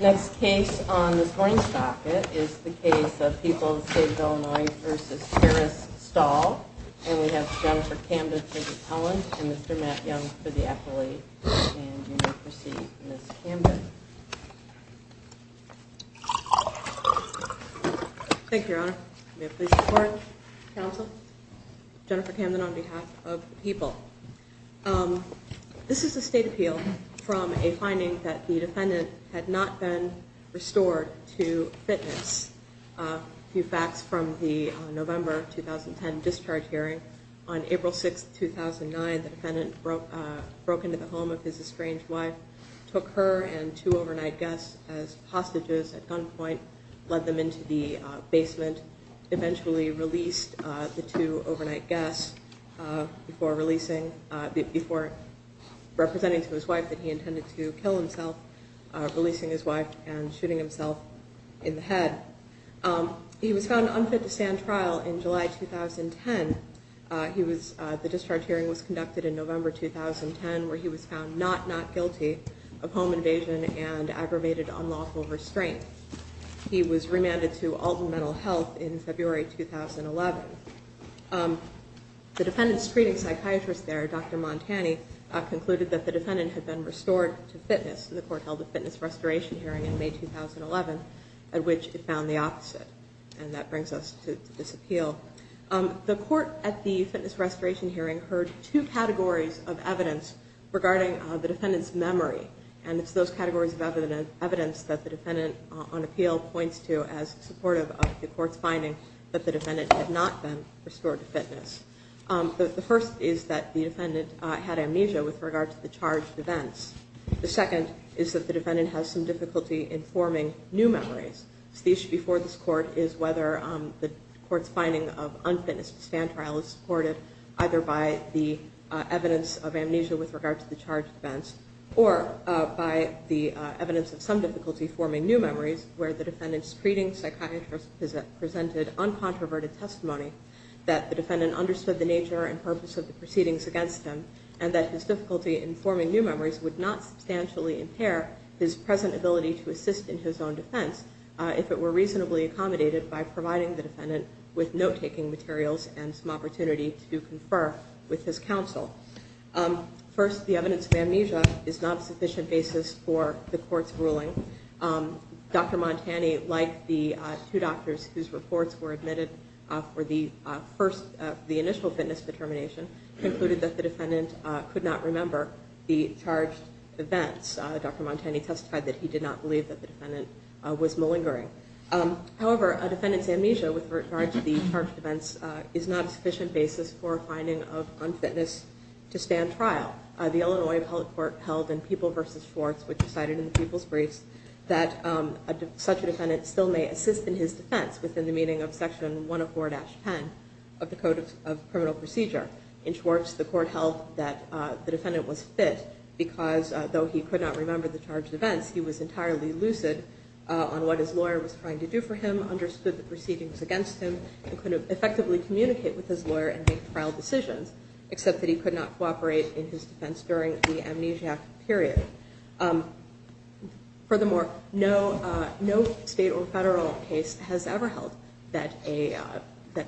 Next case on this morning's docket is the case of People of the State of Illinois v. Harris-Stahl. And we have Jennifer Camden for the appellant and Mr. Matt Young for the appellate. And you may proceed, Ms. Camden. Thank you, Your Honor. May I please report? Counsel? Jennifer Camden on behalf of People. This is a state appeal from a finding that the defendant had not been restored to fitness. A few facts from the November 2010 discharge hearing. On April 6, 2009, the defendant broke into the home of his estranged wife, took her and two overnight guests as hostages at gunpoint, led them into the basement, and eventually released the two overnight guests before representing to his wife that he intended to kill himself, releasing his wife and shooting himself in the head. He was found unfit to stand trial in July 2010. The discharge hearing was conducted in November 2010, where he was found not not guilty of home invasion and aggravated unlawful restraint. He was remanded to Alton Mental Health in February 2011. The defendant's screening psychiatrist there, Dr. Montani, concluded that the defendant had been restored to fitness. The court held a fitness restoration hearing in May 2011 at which it found the opposite. And that brings us to this appeal. The court at the fitness restoration hearing heard two categories of evidence regarding the defendant's memory. And it's those categories of evidence that the defendant, on appeal, points to as supportive of the court's finding that the defendant had not been restored to fitness. The first is that the defendant had amnesia with regard to the charged events. The second is that the defendant has some difficulty informing new memories. So the issue before this court is whether the court's finding of unfitness to stand trial is supported either by the evidence of amnesia with regard to the charged events or by the evidence of some difficulty forming new memories, where the defendant's screening psychiatrist presented uncontroverted testimony that the defendant understood the nature and purpose of the proceedings against him and that his difficulty in forming new memories would not substantially impair his present ability to assist in his own defense if it were reasonably accommodated by providing the defendant with note-taking materials and some opportunity to confer with his counsel. First, the evidence of amnesia is not a sufficient basis for the court's ruling. Dr. Montani, like the two doctors whose reports were admitted for the initial fitness determination, concluded that the defendant could not remember the charged events. Dr. Montani testified that he did not believe that the defendant was malingering. However, a defendant's amnesia with regard to the charged events is not a sufficient basis for a finding of unfitness to stand trial. The Illinois Appellate Court held in People v. Schwartz, which is cited in the People's Briefs, that such a defendant still may assist in his defense within the meaning of Section 104-10 of the Code of Criminal Procedure. In Schwartz, the court held that the defendant was fit because, though he could not remember the charged events, he was entirely lucid on what his lawyer was trying to do for him, understood the proceedings against him, and could effectively communicate with his lawyer and make trial decisions, except that he could not cooperate in his defense during the amnesiac period. Furthermore, no state or federal case has ever held that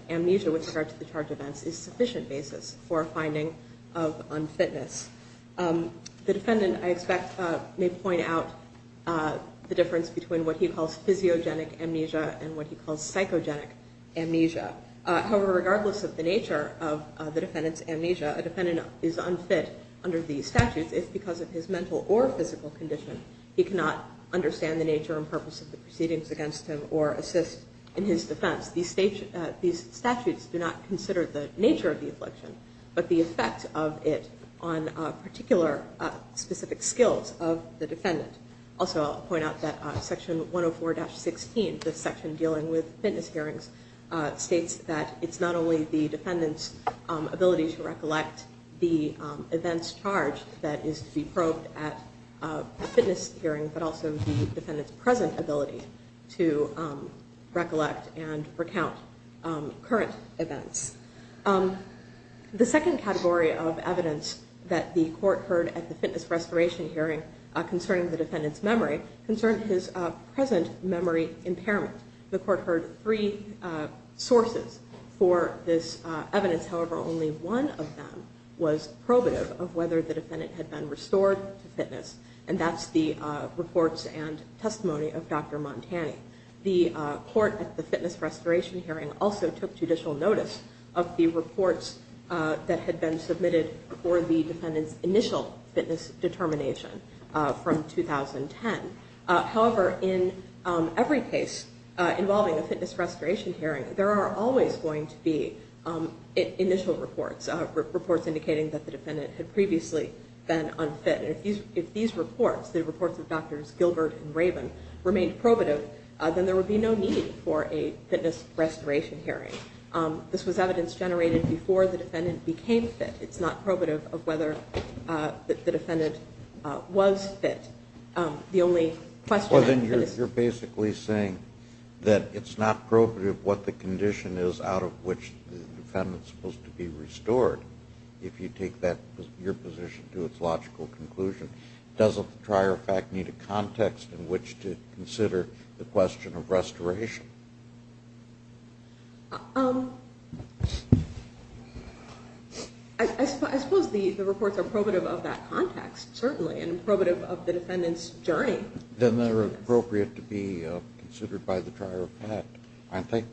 amnesia with regard to the charged events is a sufficient basis for a finding of unfitness. The defendant, I expect, may point out the difference between what he calls physiogenic amnesia and what he calls psychogenic amnesia. However, regardless of the nature of the defendant's amnesia, a defendant is unfit under these statutes if, because of his mental or physical condition, he cannot understand the nature and purpose of the proceedings against him or assist in his defense. Thus, these statutes do not consider the nature of the affliction, but the effect of it on particular specific skills of the defendant. Also, I'll point out that Section 104-16, this section dealing with fitness hearings, states that it's not only the defendant's ability to recollect the events charged that is to be probed at a fitness hearing, but also the defendant's present ability to recollect and recount current events. The second category of evidence that the court heard at the fitness restoration hearing concerning the defendant's memory concerned his present memory impairment. The court heard three sources for this evidence. However, only one of them was probative of whether the defendant had been restored to fitness, and that's the reports and testimony of Dr. Montani. The court at the fitness restoration hearing also took judicial notice of the reports that had been submitted for the defendant's initial fitness determination from 2010. However, in every case involving a fitness restoration hearing, there are always going to be initial reports, reports indicating that the defendant had previously been unfit. And if these reports, the reports of Drs. Gilbert and Rabin, remained probative, then there would be no need for a fitness restoration hearing. This was evidence generated before the defendant became fit. It's not probative of whether the defendant was fit. The only question that is- Well, then you're basically saying that it's not probative what the condition is out of which the defendant is supposed to be restored. If you take your position to its logical conclusion, doesn't the trier of fact need a context in which to consider the question of restoration? I suppose the reports are probative of that context, certainly, and probative of the defendant's journey. Then they're appropriate to be considered by the trier of fact, aren't they?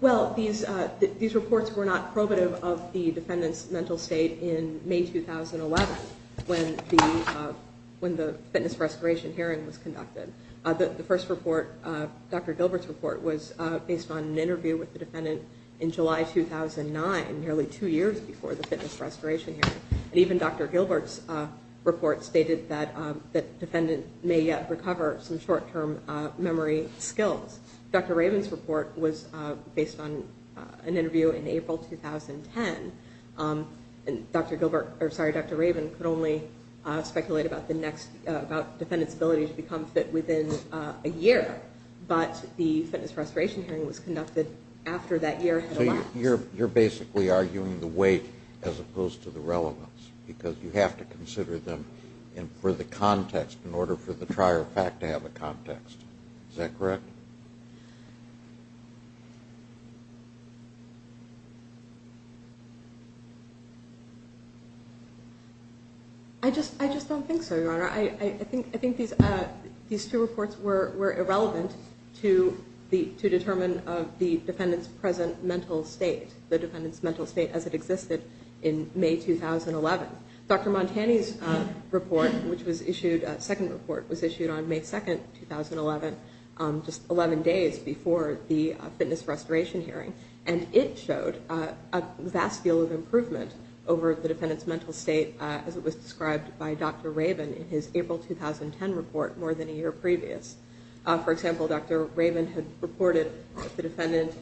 Well, these reports were not probative of the defendant's mental state in May 2011 when the fitness restoration hearing was conducted. The first report, Dr. Gilbert's report, was based on an interview with the defendant in July 2009, nearly two years before the fitness restoration hearing. Even Dr. Gilbert's report stated that the defendant may yet recover some short-term memory skills. Dr. Raven's report was based on an interview in April 2010. Dr. Raven could only speculate about the defendant's ability to become fit within a year, but the fitness restoration hearing was conducted after that year had elapsed. You're basically arguing the weight as opposed to the relevance because you have to consider them for the context in order for the trier of fact to have a context. Is that correct? I think these two reports were irrelevant to determine the defendant's present mental state, the defendant's mental state as it existed in May 2011. Dr. Montani's second report was issued on May 2, 2011, just 11 days before the fitness restoration hearing, and it showed a vast deal of improvement over the defendant's mental state as it was described by Dr. Raven in his April 2010 report more than a year previous. For example, Dr. Raven had reported the defendant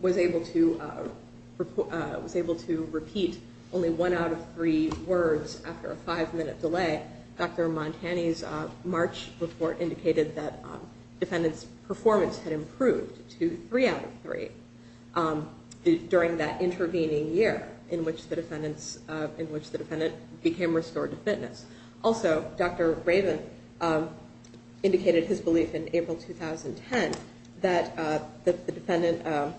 was able to repeat only one out of three words after a five-minute delay. Dr. Montani's March report indicated that the defendant's performance had improved to three out of three during that intervening year in which the defendant became restored to fitness. Also, Dr. Raven indicated his belief in April 2010 that the defendant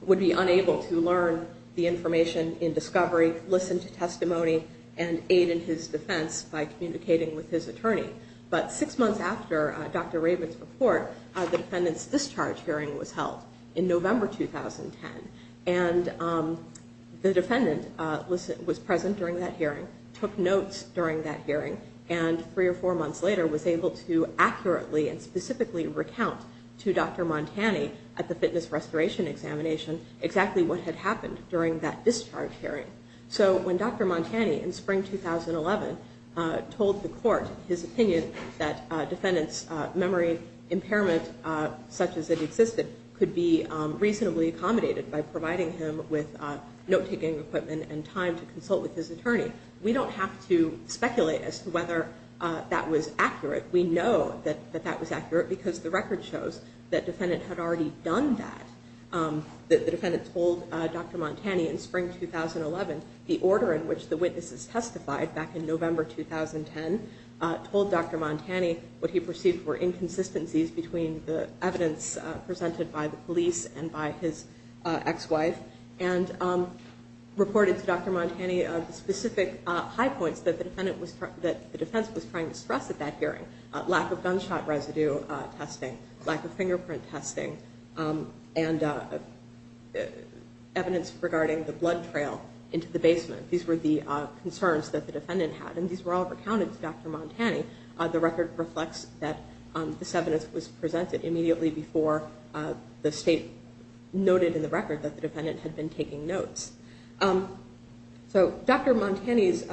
would be unable to learn the information in discovery, listen to testimony, and aid in his defense by communicating with his attorney. But six months after Dr. Raven's report, the defendant's discharge hearing was held in November 2010, and the defendant was present during that hearing, took notes during that hearing, and three or four months later was able to accurately and specifically recount to Dr. Montani at the fitness restoration examination exactly what had happened during that discharge hearing. So when Dr. Montani in spring 2011 told the court his opinion that a defendant's memory impairment such as it existed could be reasonably accommodated by providing him with note-taking equipment and time to consult with his attorney, we don't have to speculate as to whether that was accurate. We know that that was accurate because the record shows that the defendant had already done that. The defendant told Dr. Montani in spring 2011 the order in which the witnesses testified back in November 2010, told Dr. Montani what he perceived were inconsistencies between the evidence presented by the police and by his ex-wife, and reported to Dr. Montani specific high points that the defense was trying to stress at that hearing, lack of gunshot residue testing, lack of fingerprint testing, and evidence regarding the blood trail into the basement. These were the concerns that the defendant had, and these were all recounted to Dr. Montani. The record reflects that this evidence was presented immediately before the state noted in the record that the defendant had been taking notes. So Dr. Montani's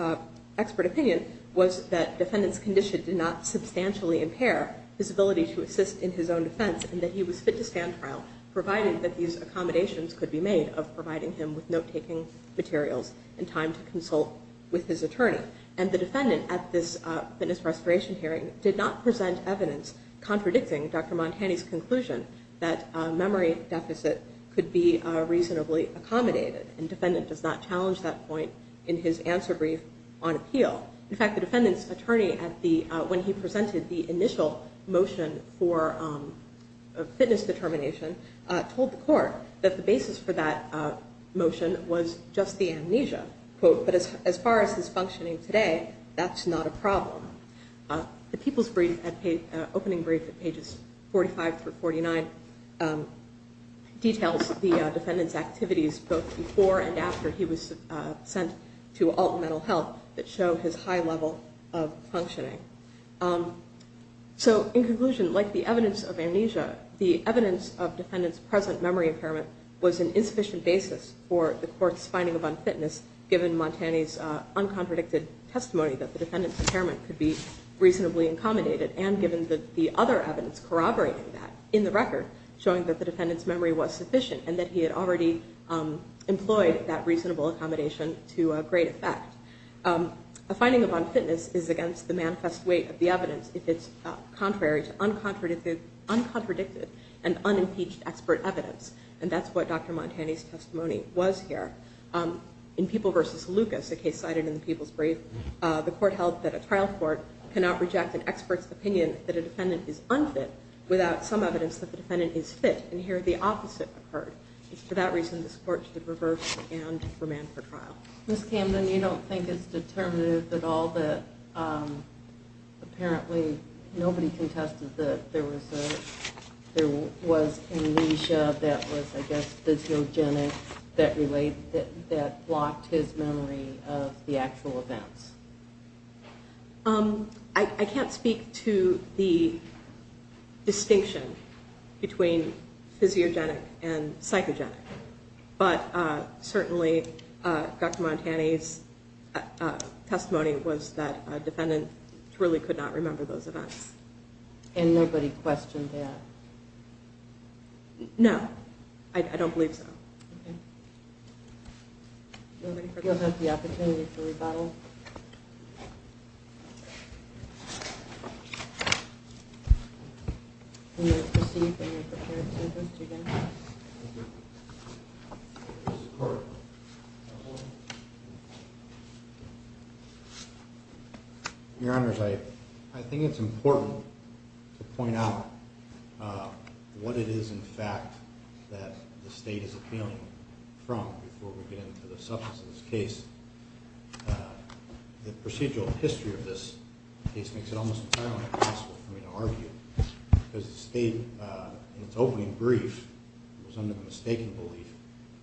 expert opinion was that the defendant's condition did not substantially impair his ability to assist in his own defense, and that he was fit to stand trial, providing that these accommodations could be made of providing him with note-taking materials and time to consult with his attorney. And the defendant at this fitness restoration hearing did not present evidence contradicting Dr. Montani's conclusion that memory deficit could be reasonably accommodated, and the defendant does not challenge that point in his answer brief on appeal. In fact, the defendant's attorney, when he presented the initial motion for fitness determination, told the court that the basis for that motion was just the amnesia. But as far as it's functioning today, that's not a problem. The People's Opening Brief at pages 45 through 49 details the defendant's activities, both before and after he was sent to Alton Mental Health, that show his high level of functioning. So in conclusion, like the evidence of amnesia, the evidence of defendant's present memory impairment was an insufficient basis for the court's finding of unfitness, given Montani's uncontradicted testimony that the defendant's impairment could be reasonably accommodated, and given the other evidence corroborating that in the record, showing that the defendant's memory was sufficient, and that he had already employed that reasonable accommodation to a great effect. A finding of unfitness is against the manifest weight of the evidence if it's contrary to uncontradicted and unimpeached expert evidence, and that's what Dr. Montani's testimony was here. In People v. Lucas, a case cited in the People's Brief, the court held that a trial court cannot reject an expert's opinion that a defendant is unfit without some evidence that the defendant is fit, and here the opposite occurred. For that reason, this court should reverse and remand for trial. Ms. Camden, you don't think it's determinative at all that apparently nobody contested that there was amnesia that was, I guess, physiogenic that blocked his memory of the actual events? I can't speak to the distinction between physiogenic and psychogenic, but certainly Dr. Montani's testimony was that a defendant truly could not remember those events. And nobody questioned that? No, I don't believe so. Okay. Does anybody else have the opportunity to rebuttal? When you're perceived and you're prepared to do this again. Thank you. This is the court. Your Honor, I think it's important to point out what it is, in fact, that the state is appealing from before we get into the substance of this case. The procedural history of this case makes it almost entirely impossible for me to argue because the state, in its opening brief, was under the mistaken belief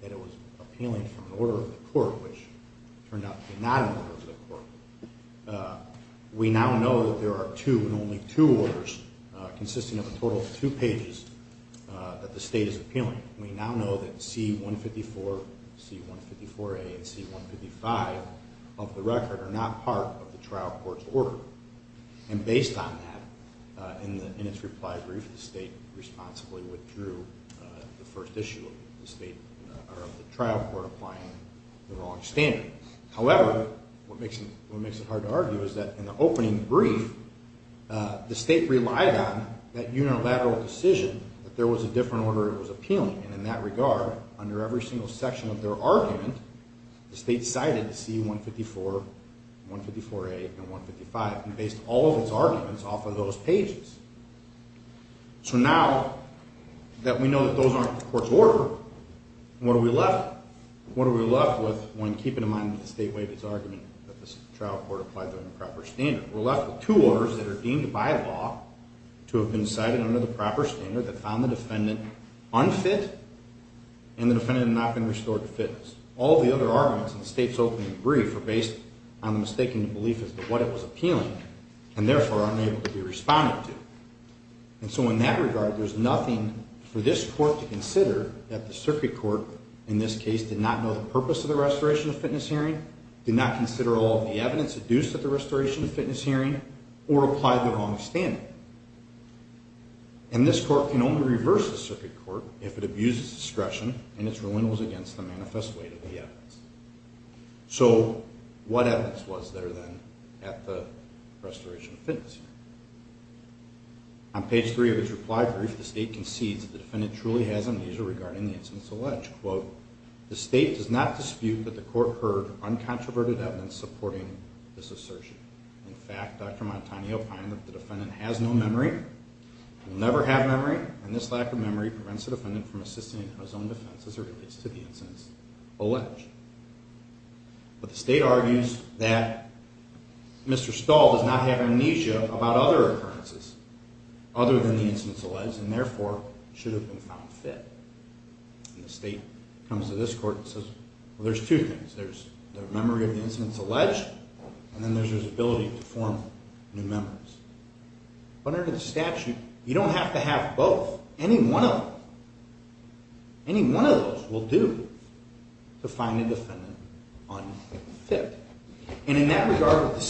that it was appealing from an order of the court, which turned out to be not an order of the court. We now know that there are two and only two orders consisting of a total of two pages that the state is appealing. We now know that C-154, C-154A, and C-155 of the record are not part of the trial court's order. And based on that, in its reply brief, the state responsibly withdrew the first issue of the trial court applying the wrong standard. However, what makes it hard to argue is that in the opening brief, the state relied on that unilateral decision that there was a different order it was appealing, and in that regard, under every single section of their argument, the state cited C-154, C-154A, and C-155 and based all of its arguments off of those pages. So now that we know that those aren't the court's order, what are we left with when keeping in mind that the state waived its argument that the trial court applied the improper standard? We're left with two orders that are deemed by law to have been cited under the proper standard that found the defendant unfit and the defendant had not been restored to fitness. All the other arguments in the state's opening brief are based on the mistaken belief as to what it was appealing and therefore unable to be responded to. And so in that regard, there's nothing for this court to consider that the circuit court, in this case, did not know the purpose of the restoration of fitness hearing, did not consider all of the evidence adduced at the restoration of fitness hearing, or applied the wrong standard. And this court can only reverse the circuit court if it abuses discretion and is relentless against the manifest weight of the evidence. So what evidence was there then at the restoration of fitness hearing? On page three of its reply brief, the state concedes that the defendant truly has amnesia regarding the instance alleged. Quote, the state does not dispute that the court heard uncontroverted evidence supporting this assertion. In fact, Dr. Montagne opined that the defendant has no memory, will never have memory, and this lack of memory prevents the defendant from assisting in his own defense as it relates to the instance alleged. But the state argues that Mr. Stahl does not have amnesia about other occurrences, other than the instance alleged, and therefore should have been found fit. And the state comes to this court and says, well, there's two things. There's the memory of the instance alleged, and then there's his ability to form new memories. But under the statute, you don't have to have both. Any one of them, any one of those will do to find a defendant unfit. And in that regard, what the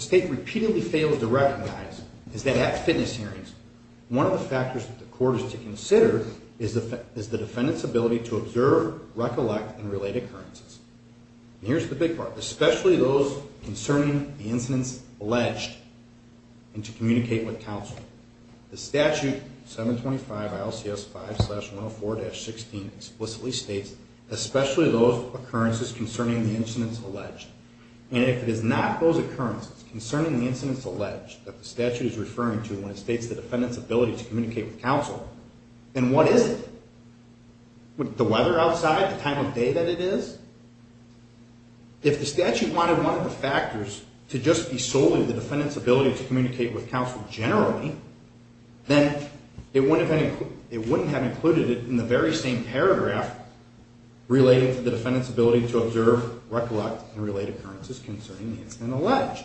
state repeatedly fails to recognize is that at fitness hearings, one of the factors that the court is to consider is the defendant's ability to observe, recollect, and relate occurrences. And here's the big part. Especially those concerning the incidents alleged and to communicate with counsel. The statute, 725 ILCS 5-104-16, explicitly states, especially those occurrences concerning the incidents alleged. And if it is not those occurrences concerning the incidents alleged that the statute is referring to when it states the defendant's ability to communicate with counsel, then what is it? The weather outside? The time of day that it is? If the statute wanted one of the factors to just be solely the defendant's ability to communicate with counsel generally, then it wouldn't have included it in the very same paragraph relating to the defendant's ability to observe, recollect, and relate occurrences concerning the incident alleged.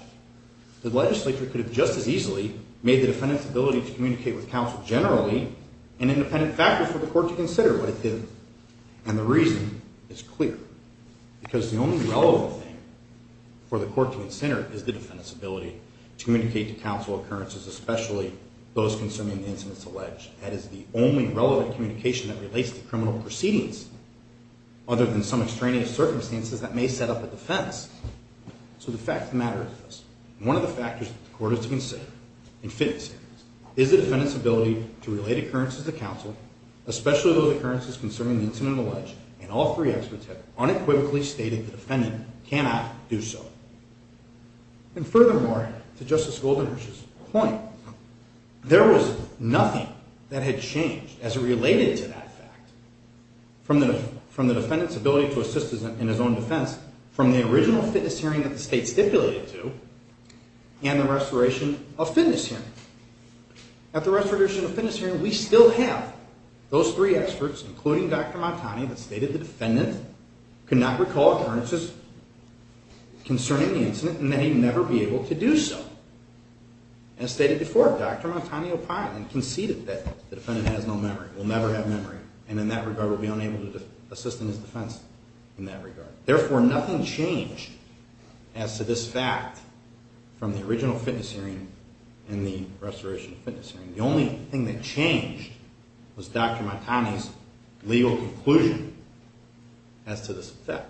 The legislature could have just as easily made the defendant's ability to communicate with counsel generally an independent factor for the court to consider, but it didn't. And the reason is clear. Because the only relevant thing for the court to consider is the defendant's ability to communicate to counsel occurrences, especially those concerning the incidents alleged. That is the only relevant communication that relates to criminal proceedings, other than some extraneous circumstances that may set up a defense. So the fact of the matter is this. One of the factors that the court has to consider, in fitting standards, is the defendant's ability to relate occurrences to counsel, especially those occurrences concerning the incident alleged, and all three experts have unequivocally stated the defendant cannot do so. And furthermore, to Justice Goldenberg's point, there was nothing that had changed as it related to that fact from the defendant's ability to assist in his own defense, from the original fitness hearing that the state stipulated to, and the restoration of fitness hearing. At the restoration of fitness hearing, we still have those three experts, including Dr. Montani, that stated the defendant could not recall occurrences concerning the incident and may never be able to do so. As stated before, Dr. Montani opined and conceded that the defendant has no memory, will never have memory, and in that regard will be unable to assist in his defense in that regard. Therefore, nothing changed as to this fact from the original fitness hearing and the restoration of fitness hearing. The only thing that changed was Dr. Montani's legal conclusion as to this fact.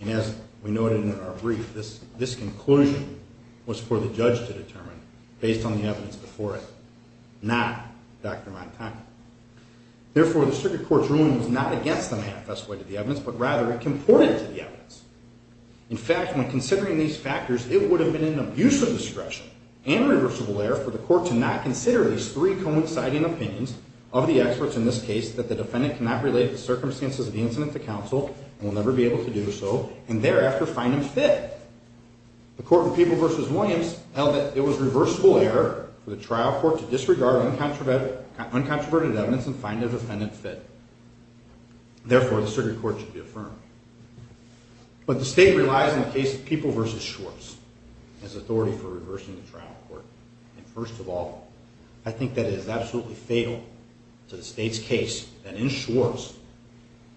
And as we noted in our brief, this conclusion was for the judge to determine, based on the evidence before it, not Dr. Montani. Therefore, the circuit court's ruling was not against the manifest way to the evidence, but rather it comported to the evidence. In fact, when considering these factors, it would have been an abuse of discretion and reversible error for the court to not consider these three coinciding opinions of the experts in this case that the defendant cannot relate the circumstances of the incident to counsel and will never be able to do so, and thereafter find him fit. The court in People v. Williams held that it was reversible error for the trial court to disregard uncontroverted evidence and find the defendant fit. Therefore, the circuit court should be affirmed. But the state relies on the case of People v. Schwartz as authority for reversing the trial court. And first of all, I think that it is absolutely fatal to the state's case that in Schwartz,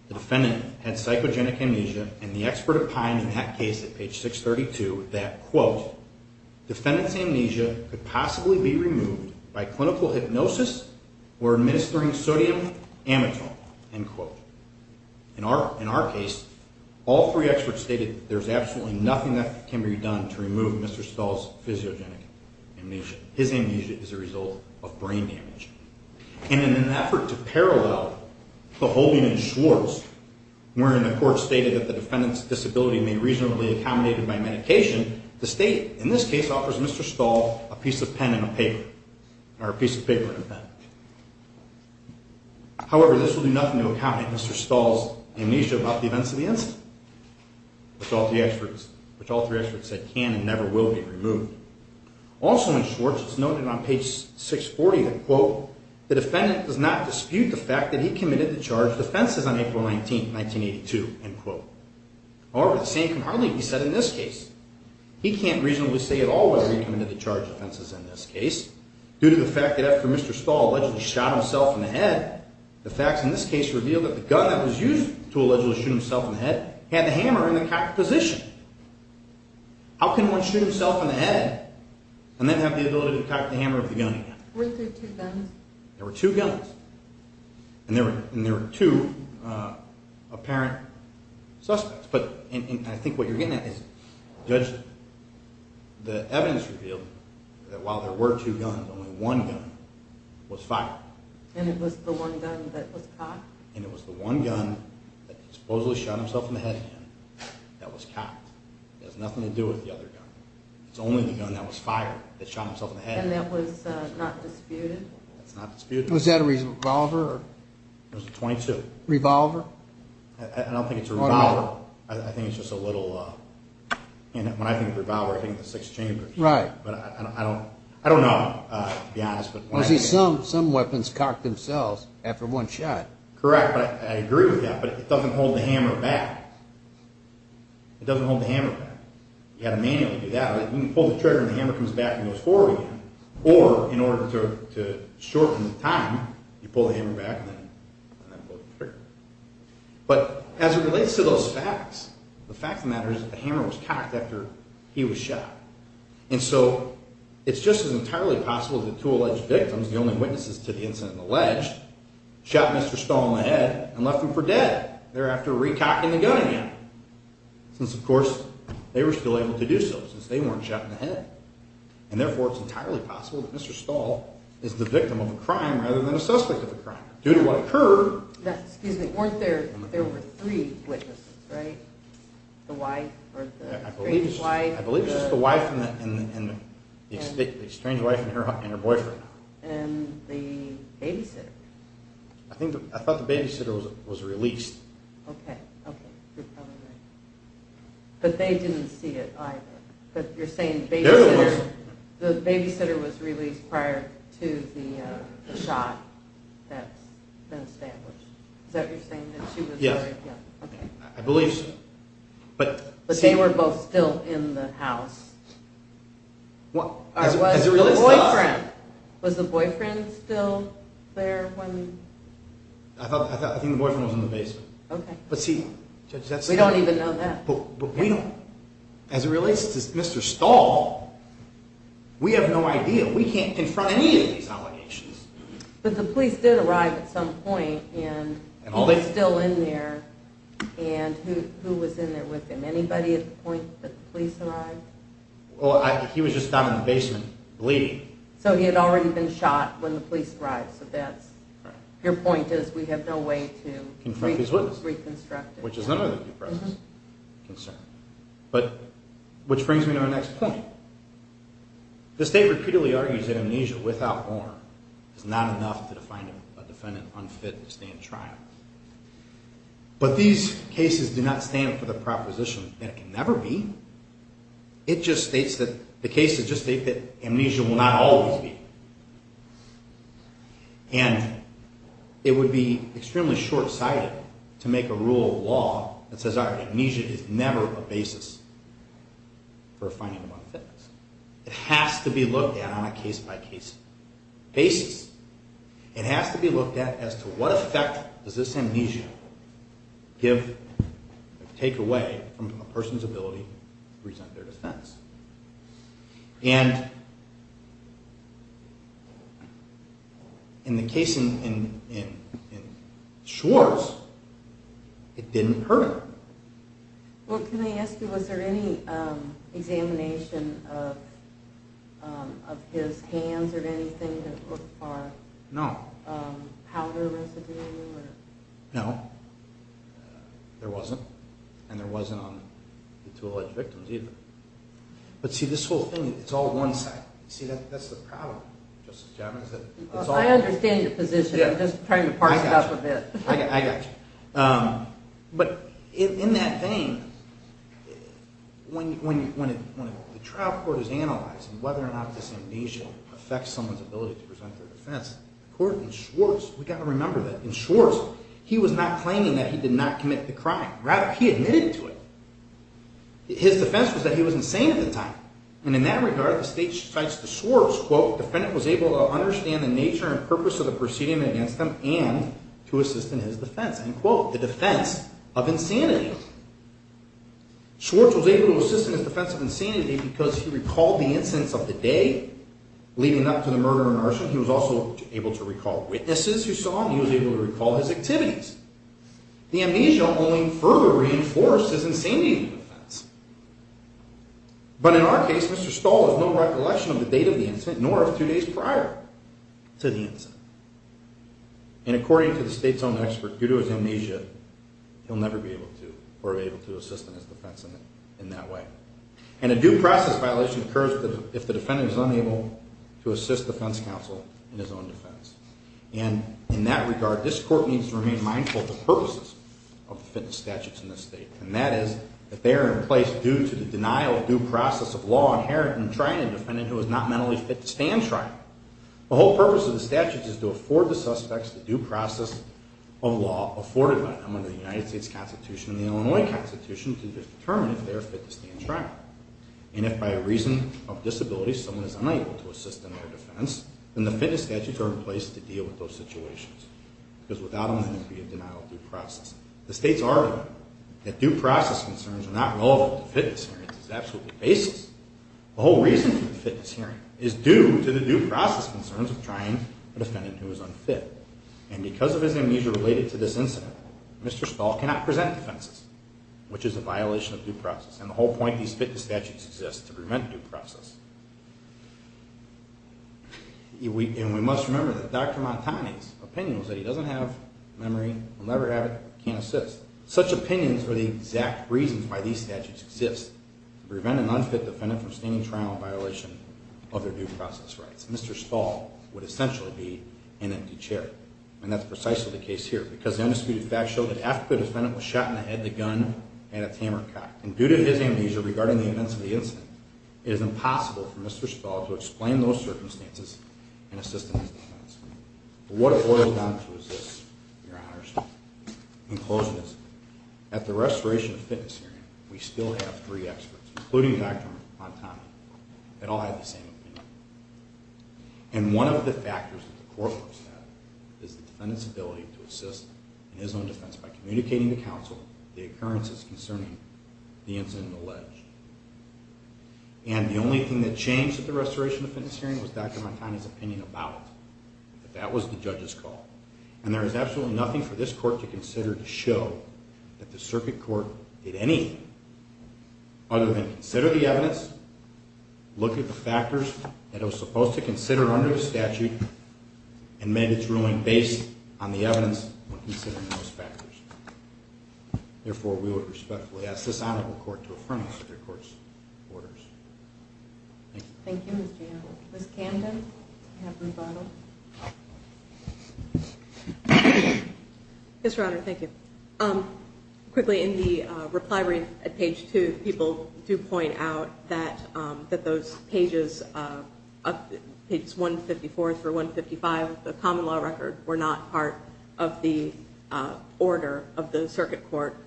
the defendant had psychogenic amnesia, and the expert opined in that case at page 632 that, quote, defendant's amnesia could possibly be removed by clinical hypnosis or administering sodium amitone, end quote. In our case, all three experts stated there's absolutely nothing that can be done to remove Mr. Stahl's physiogenic amnesia. His amnesia is a result of brain damage. And in an effort to parallel the holding in Schwartz, wherein the court stated that the defendant's disability may reasonably be accommodated by medication, the state, in this case, offers Mr. Stahl a piece of pen and a paper, or a piece of paper and a pen. However, this will do nothing to accommodate Mr. Stahl's amnesia about the events of the incident, which all three experts said can and never will be removed. Also in Schwartz, it's noted on page 640 that, quote, the defendant does not dispute the fact that he committed the charged offenses on April 19, 1982, end quote. However, the same can hardly be said in this case. He can't reasonably say at all whether he committed the charged offenses in this case due to the fact that after Mr. Stahl allegedly shot himself in the head, the facts in this case reveal that the gun that was used to allegedly shoot himself in the head had the hammer in the cocked position. How can one shoot himself in the head and then have the ability to cock the hammer of the gun again? Were there two guns? There were two guns. And there were two apparent suspects. But I think what you're getting at is the evidence revealed that while there were two guns, only one gun was fired. And it was the one gun that was cocked? And it was the one gun that supposedly shot himself in the head that was cocked. It has nothing to do with the other gun. It's only the gun that was fired that shot himself in the head. And that was not disputed? That's not disputed. Was that a revolver? It was a .22. Revolver? I don't think it's a revolver. I think it's just a little... When I think of revolver, I think of the six chambers. Right. But I don't know, to be honest. Some weapons cock themselves after one shot. Correct. I agree with that. But it doesn't hold the hammer back. It doesn't hold the hammer back. You have to manually do that. You can pull the trigger and the hammer comes back and goes forward again. Or, in order to shorten the time, you pull the hammer back and then pull the trigger. But as it relates to those facts, the fact of the matter is that the hammer was cocked after he was shot. And so it's just as entirely possible that two alleged victims, the only witnesses to the incident alleged, shot Mr. Stahl in the head and left him for dead thereafter re-cocking the gun again. Since, of course, they were still able to do so since they weren't shot in the head. And, therefore, it's entirely possible that Mr. Stahl is the victim of a crime rather than a suspect of a crime. Due to what occurred... Excuse me. There were three witnesses, right? The wife or the estranged wife. I believe it's just the wife and the estranged wife and her boyfriend. And the babysitter. I thought the babysitter was released. Okay. Okay. You're probably right. But they didn't see it either. But you're saying the babysitter was released prior to the shot that's been established. Is that what you're saying? Yes. Okay. I believe so. But they were both still in the house. Or was the boyfriend still there when... I think the boyfriend was in the basement. Okay. We don't even know that. But we don't... As it relates to Mr. Stahl, we have no idea. We can't confront any of these allegations. But the police did arrive at some point. And he was still in there. And who was in there with him? Anybody at the point that the police arrived? Well, he was just down in the basement bleeding. So he had already been shot when the police arrived. So that's... Your point is we have no way to reconstruct it. Which is another of the press' concerns. But which brings me to our next point. The state repeatedly argues that amnesia without warrant is not enough to define a defendant unfit to stand trial. But these cases do not stand for the proposition that it can never be. It just states that... The cases just state that amnesia will not always be. And it would be extremely short-sighted to make a rule of law that says amnesia is never a basis for a finding of unfitness. It has to be looked at on a case-by-case basis. It has to be looked at as to what effect does this amnesia give or take away from a person's ability to present their defense. And... In the case in Schwartz, it didn't hurt him. Well, can I ask you, was there any examination of his hands or anything? No. Powder residue? No. There wasn't. And there wasn't on the two alleged victims either. But see, this whole thing, it's all one side. See, that's the problem, Justice Javits. I understand your position. I'm just trying to park it up a bit. I got you. But in that vein, when the trial court is analyzing whether or not this amnesia affects someone's ability to present their defense, the court in Schwartz, we've got to remember that in Schwartz, he was not claiming that he did not commit the crime. Rather, he admitted to it. His defense was that he was insane at the time. And in that regard, the state cites to Schwartz, quote, End quote. The defense of insanity. Schwartz was able to assist in his defense of insanity because he recalled the incidents of the day leading up to the murder and arson. He was also able to recall witnesses who saw him. He was able to recall his activities. The amnesia only further reinforced his insanity defense. But in our case, Mr. Stahl has no recollection of the date of the incident, nor of two days prior to the incident. And according to the state's own expert, due to his amnesia, he'll never be able to assist in his defense in that way. And a due process violation occurs if the defendant is unable to assist the defense counsel in his own defense. And in that regard, this court needs to remain mindful of the purposes of the fitness statutes in this state. And that is that they are in place due to the denial of due process of law inherent in trying a defendant who is not mentally fit to stand trial. The whole purpose of the statutes is to afford the suspects the due process of law afforded by them under the United States Constitution and the Illinois Constitution to determine if they are fit to stand trial. And if by reason of disability someone is unable to assist in their defense, then the fitness statutes are in place to deal with those situations. Because without them, there would be a denial of due process. The state's argument that due process concerns are not relevant to fitness hearings is absolutely baseless. The whole reason for the fitness hearing is due to the due process concerns of trying a defendant who is unfit. And because of his amnesia related to this incident, Mr. Stahl cannot present defenses, which is a violation of due process. And the whole point of these fitness statutes is to prevent due process. And we must remember that Dr. Montani's opinion was that he doesn't have memory, will never have it, can't assist. Such opinions are the exact reasons why these statutes exist, to prevent an unfit defendant from standing trial in violation of their due process rights. Mr. Stahl would essentially be an empty chair. And that's precisely the case here, because the undisputed facts show that after the defendant was shot in the head, the gun had its hammer cocked. And due to his amnesia regarding the events of the incident, it is impossible for Mr. Stahl to explain those circumstances and assist in his defense. But what it boils down to is this, Your Honors. In closing, at the restoration of the fitness hearing, we still have three experts, including Dr. Montani. They all have the same opinion. And one of the factors that the court looks at is the defendant's ability to assist in his own defense by communicating to counsel the occurrences concerning the incident alleged. And the only thing that changed at the restoration of the fitness hearing was Dr. Montani's opinion about it. But that was the judge's call. And there is absolutely nothing for this court to consider to show that the circuit court did anything other than consider the evidence, look at the factors that it was supposed to consider under the statute, and make its ruling based on the evidence when considering those factors. Therefore, we would respectfully ask this honorable court to affirm the circuit court's orders. Thank you. Thank you, Ms. Jano. Ms. Camden, you have the rebuttal. Yes, Your Honor, thank you. Quickly, in the reply brief at page two, people do point out that those pages, pages 154 through 155 of the common law record, were not part of the order of the circuit court,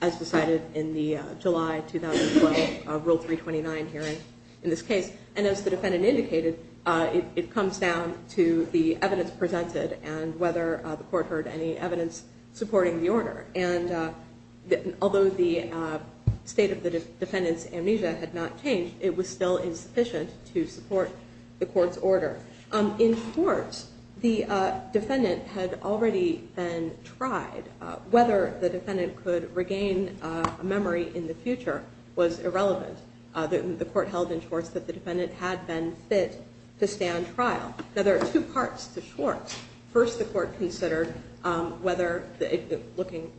as decided in the July 2012 Rule 329 hearing in this case. And as the defendant indicated, it comes down to the evidence presented and whether the court heard any evidence supporting the order. And although the state of the defendant's amnesia had not changed, it was still insufficient to support the court's order. In court, the defendant had already been tried. Whether the defendant could regain a memory in the future was irrelevant. The court held in Schwartz that the defendant had been fit to stand trial. Now, there are two parts to Schwartz. First, the court considered whether, looking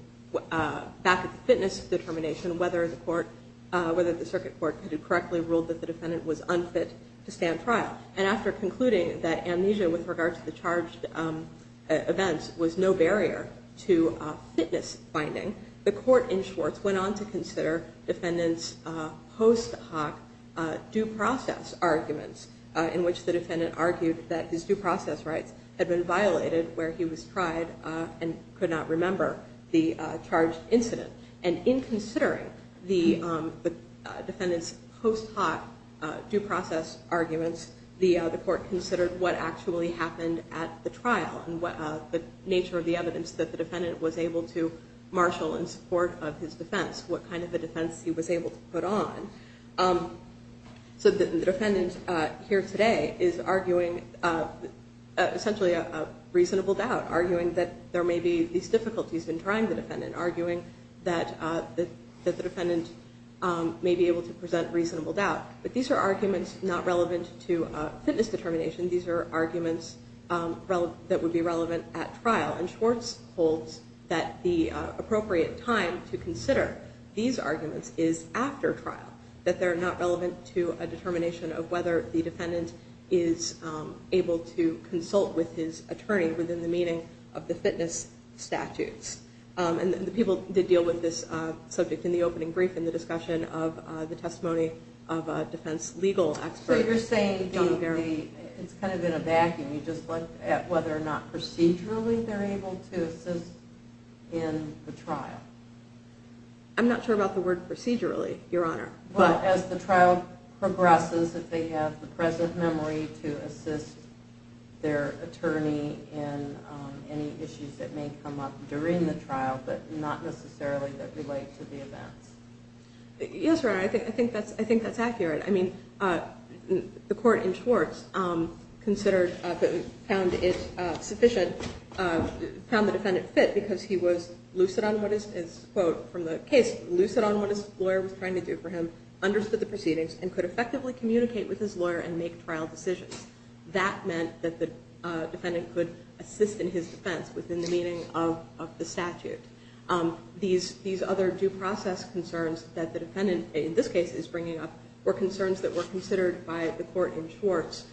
back at the fitness determination, whether the circuit court had correctly ruled that the defendant was unfit to stand trial. And after concluding that amnesia with regard to the charged events was no barrier to fitness finding, the court in Schwartz went on to consider defendant's post hoc due process arguments in which the defendant argued that his due process rights had been violated where he was tried and could not remember the charged incident. And in considering the defendant's post hoc due process arguments, the court considered what actually happened at the trial and the nature of the evidence that the defendant was able to marshal in support of his defense, what kind of a defense he was able to put on. So the defendant here today is arguing essentially a reasonable doubt, arguing that there may be these difficulties in trying the defendant, arguing that the defendant may be able to present reasonable doubt. But these are arguments not relevant to fitness determination. These are arguments that would be relevant at trial. And Schwartz holds that the appropriate time to consider these arguments is after trial, that they're not relevant to a determination of whether the defendant is able to consult with his attorney within the meaning of the fitness statutes. And the people did deal with this subject in the opening brief in the discussion of the testimony of a defense legal expert. So you're saying it's kind of in a vacuum. You just looked at whether or not procedurally they're able to assist in the trial. I'm not sure about the word procedurally, Your Honor. Well, as the trial progresses, if they have the present memory to assist their attorney in any issues that may come up during the trial but not necessarily that relate to the events. Yes, Your Honor, I think that's accurate. I mean, the court in Schwartz considered, found it sufficient, found the defendant fit because he was lucid on what his, quote, from the case, lucid on what his lawyer was trying to do for him, understood the proceedings, and could effectively communicate with his lawyer and make trial decisions. That meant that the defendant could assist in his defense within the meaning of the statute. These other due process concerns that the defendant, in this case, is bringing up were concerns that were considered by the court in Schwartz,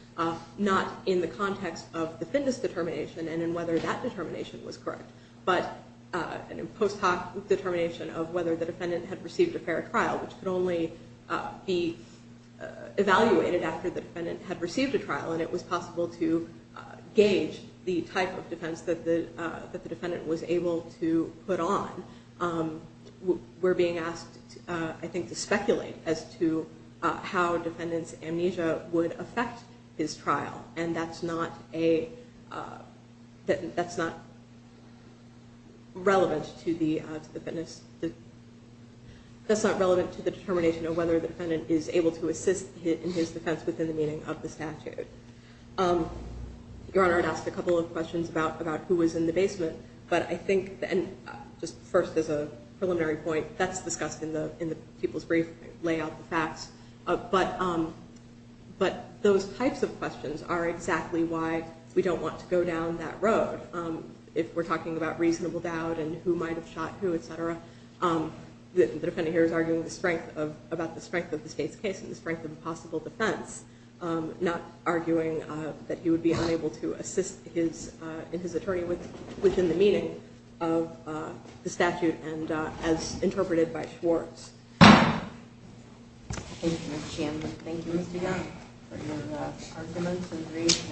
not in the context of the fitness determination and in whether that determination was correct, but in a post hoc determination of whether the defendant had received a fair trial, which could only be evaluated after the defendant had received a trial, and it was possible to gauge the type of defense that the defendant was able to put on. We're being asked, I think, to speculate as to how defendant's amnesia would affect his trial, and that's not a, that's not relevant to the, that's not relevant to the determination of whether the defendant is able to assist in his defense within the meaning of the statute. Your Honor, I'd ask a couple of questions about who was in the basement, but I think, and just first as a preliminary point, that's discussed in the people's brief, lay out the facts, but those types of questions are exactly why we don't want to go down that road. If we're talking about reasonable doubt and who might have shot who, et cetera, the defendant here is arguing the strength of, about the strength of the state's case and the strength of the possible defense, not arguing that he would be unable to assist his, in his attorney within the meaning of the statute and as interpreted by Schwartz. Thank you, Ms. Chandler. Thank you, Mr. Young, for your arguments and brief.